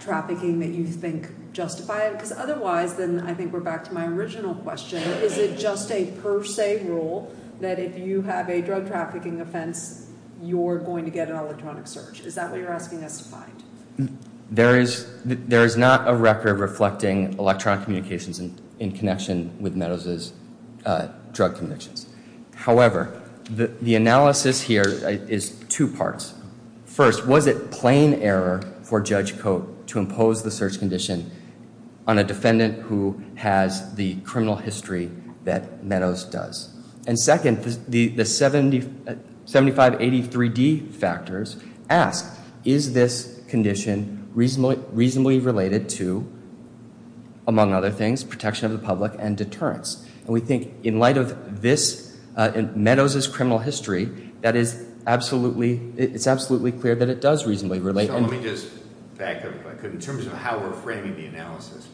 trafficking that you think justified? Because otherwise, then I think we're back to my original question. Is it just a per se rule that if you have a drug trafficking offense, you're going to get an electronic search? There is not a record reflecting electronic communications in connection with Meadows' drug convictions. However, the analysis here is two parts. First, was it plain error for Judge Cote to impose the search condition on a defendant who has the criminal history that Meadows does? And second, the 7583D factors ask, is this condition reasonably related to, among other things, protection of the public and deterrence? And we think in light of this, Meadows' criminal history, it's absolutely clear that it does reasonably relate. So let me just back up if I could. In terms of how we're framing the analysis,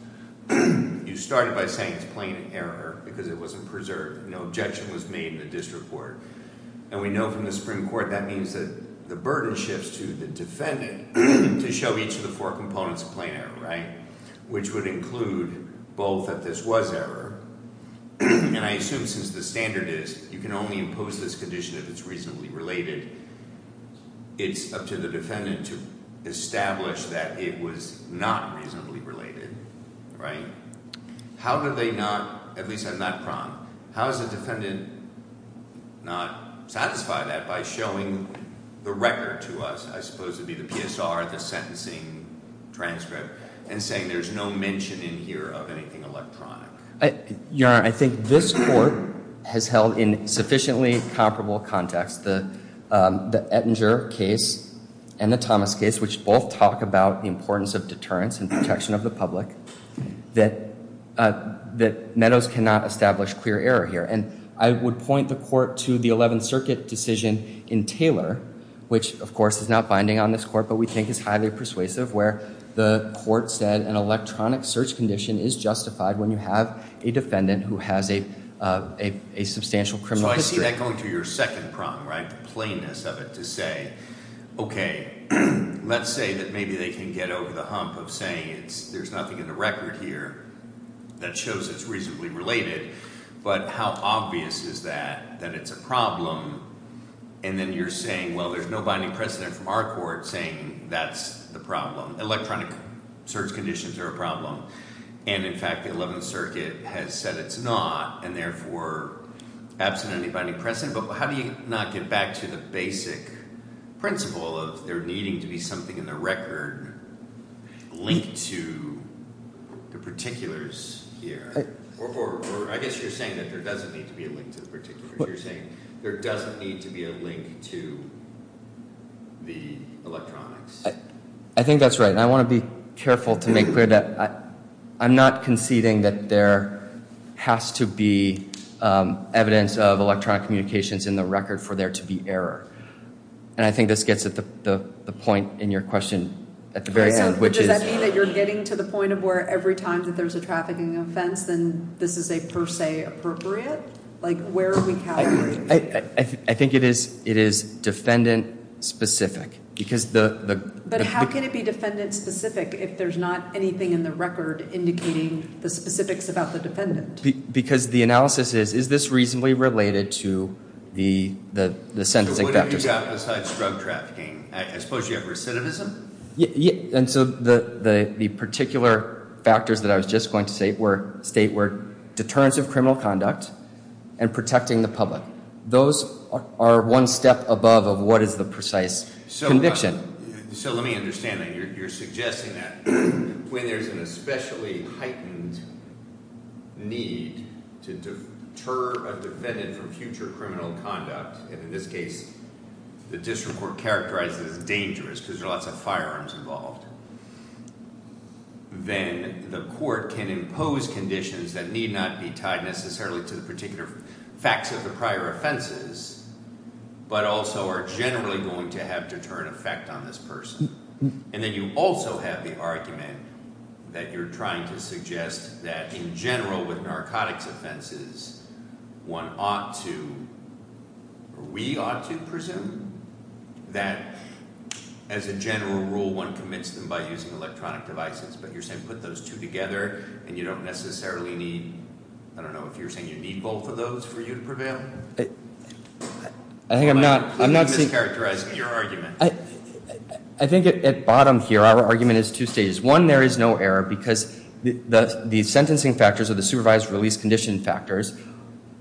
you started by saying it's plain error because it wasn't preserved. No objection was made in the district court. And we know from the Supreme Court that means that the burden shifts to the defendant to show each of the four components of plain error, right, which would include both that this was error. And I assume since the standard is you can only impose this condition if it's reasonably related, it's up to the defendant to establish that it was not reasonably related, right? How do they not, at least I'm not pronged, how does the defendant not satisfy that by showing the record to us, I suppose it would be the PSR, the sentencing transcript, and saying there's no mention in here of anything electronic? Your Honor, I think this court has held in sufficiently comparable context the Ettinger case and the Thomas case, which both talk about the importance of deterrence and protection of the public, that Meadows cannot establish clear error here. And I would point the court to the 11th Circuit decision in Taylor, which, of course, is not binding on this court, but we think is highly persuasive where the court said an electronic search condition is justified when you have a defendant who has a substantial criminal history. Is that going to your second prong, right, the plainness of it to say, OK, let's say that maybe they can get over the hump of saying there's nothing in the record here that shows it's reasonably related. But how obvious is that, that it's a problem? And then you're saying, well, there's no binding precedent from our court saying that's the problem. Electronic search conditions are a problem. And, in fact, the 11th Circuit has said it's not, and therefore absent any binding precedent. But how do you not get back to the basic principle of there needing to be something in the record linked to the particulars here? Or I guess you're saying that there doesn't need to be a link to the particulars. You're saying there doesn't need to be a link to the electronics. I think that's right. And I want to be careful to make clear that I'm not conceding that there has to be evidence of electronic communications in the record for there to be error. And I think this gets at the point in your question at the very end, which is— Does that mean that you're getting to the point of where every time that there's a trafficking offense, then this is a per se appropriate? Like, where are we calculating? I think it is defendant-specific because the— But how can it be defendant-specific if there's not anything in the record indicating the specifics about the defendant? Because the analysis is, is this reasonably related to the sentencing factors? So what have you got besides drug trafficking? I suppose you have recidivism? And so the particular factors that I was just going to state were deterrence of criminal conduct and protecting the public. Those are one step above of what is the precise conviction. So let me understand that. When there's an especially heightened need to deter a defendant from future criminal conduct, and in this case the district court characterized it as dangerous because there are lots of firearms involved, then the court can impose conditions that need not be tied necessarily to the particular facts of the prior offenses, but also are generally going to have deterrent effect on this person. And then you also have the argument that you're trying to suggest that in general with narcotics offenses, one ought to—we ought to presume that as a general rule, one commits them by using electronic devices. But you're saying put those two together, and you don't necessarily need—I don't know if you're saying you need both of those for you to prevail? I think I'm not— I'm mischaracterizing your argument. I think at bottom here our argument is two stages. One, there is no error because the sentencing factors or the supervised release condition factors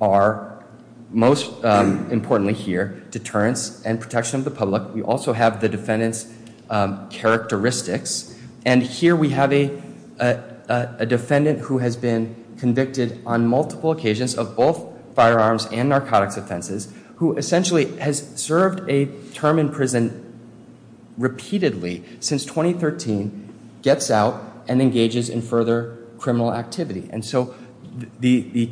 are, most importantly here, deterrence and protection of the public. We also have the defendant's characteristics. And here we have a defendant who has been convicted on multiple occasions of both firearms and narcotics offenses, who essentially has served a term in prison repeatedly since 2013, gets out, and engages in further criminal activity. And so the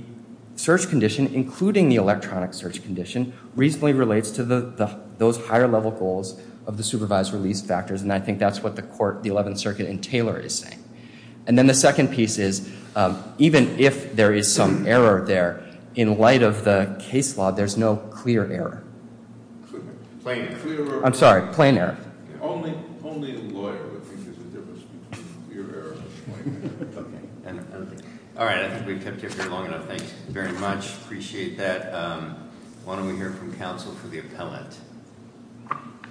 search condition, including the electronic search condition, reasonably relates to those higher-level goals of the supervised release factors. And I think that's what the 11th Circuit in Taylor is saying. And then the second piece is even if there is some error there, in light of the case law, there's no clear error. Plain error. I'm sorry, plain error. Only the lawyer would think there's a difference between clear error and plain error. All right, I think we've kept you here long enough. Thank you very much. Appreciate that. Why don't we hear from counsel for the appellant,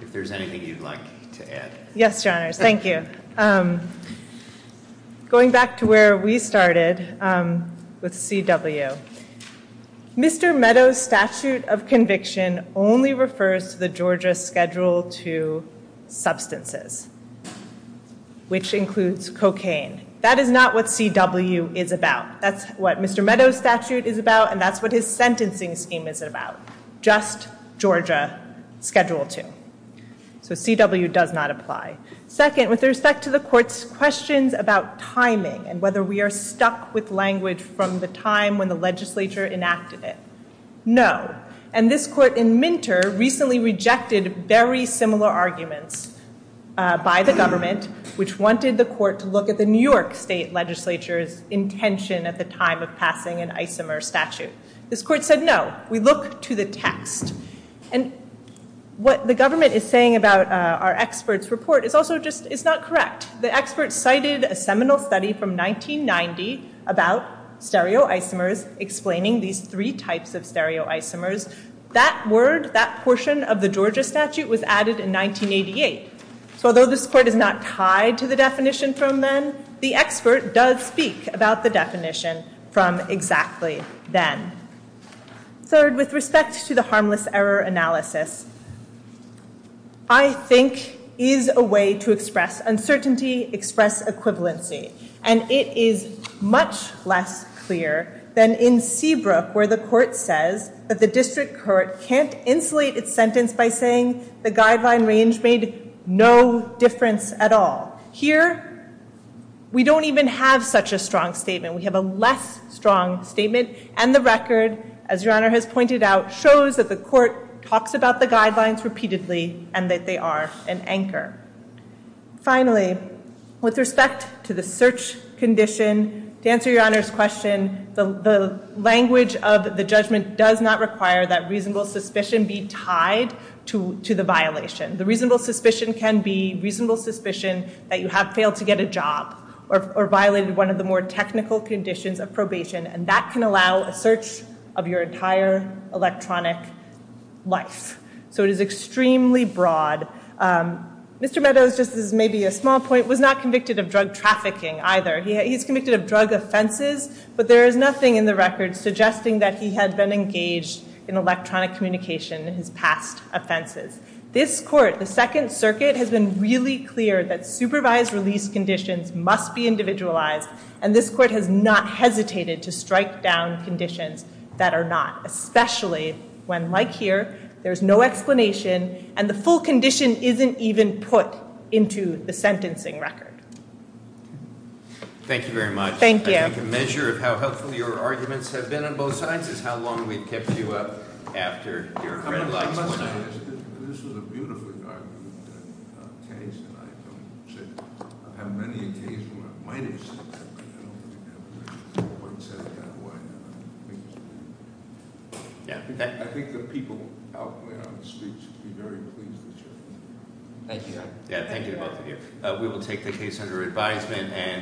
if there's anything you'd like to add. Yes, Your Honors. Thank you. Going back to where we started with CW, Mr. Meadows' statute of conviction only refers to the Georgia Schedule II substances, which includes cocaine. That is not what CW is about. That's what Mr. Meadows' statute is about, and that's what his sentencing scheme is about. Just Georgia Schedule II. So CW does not apply. Second, with respect to the Court's questions about timing and whether we are stuck with language from the time when the legislature enacted it, no. And this court in Minter recently rejected very similar arguments by the government, which wanted the court to look at the New York state legislature's intention at the time of passing an isomer statute. This court said no. We look to the text. And what the government is saying about our experts' report is also just, it's not correct. The expert cited a seminal study from 1990 about stereoisomers, explaining these three types of stereoisomers. That word, that portion of the Georgia statute, was added in 1988. So although this court is not tied to the definition from then, the expert does speak about the definition from exactly then. Third, with respect to the harmless error analysis, I think is a way to express uncertainty, express equivalency. And it is much less clear than in Seabrook, where the court says that the district court can't insulate its sentence by saying the guideline range made no difference at all. Here, we don't even have such a strong statement. We have a less strong statement. And the record, as Your Honor has pointed out, shows that the court talks about the guidelines repeatedly and that they are an anchor. Finally, with respect to the search condition, to answer Your Honor's question, the language of the judgment does not require that reasonable suspicion be tied to the violation. The reasonable suspicion can be reasonable suspicion that you have failed to get a job or violated one of the more technical conditions of probation, and that can allow a search of your entire electronic life. So it is extremely broad. Mr. Meadows, just as maybe a small point, was not convicted of drug trafficking either. He's convicted of drug offenses, but there is nothing in the record suggesting that he had been engaged in electronic communication in his past offenses. This court, the Second Circuit, has been really clear that supervised release conditions must be individualized, and this court has not hesitated to strike down conditions that are not, especially when, like here, there's no explanation, and the full condition isn't even put into the sentencing record. Thank you. I think a measure of how helpful your arguments have been on both sides is how long we've kept you up after your red lights went out. This was a beautiful argument that Case and I have said. I have many a case where I might have said something, but I don't think I've ever said it that way. I think the people out there on the streets would be very pleased with you. Thank you, Your Honor. Thank you, both of you. We will take the case under advisement.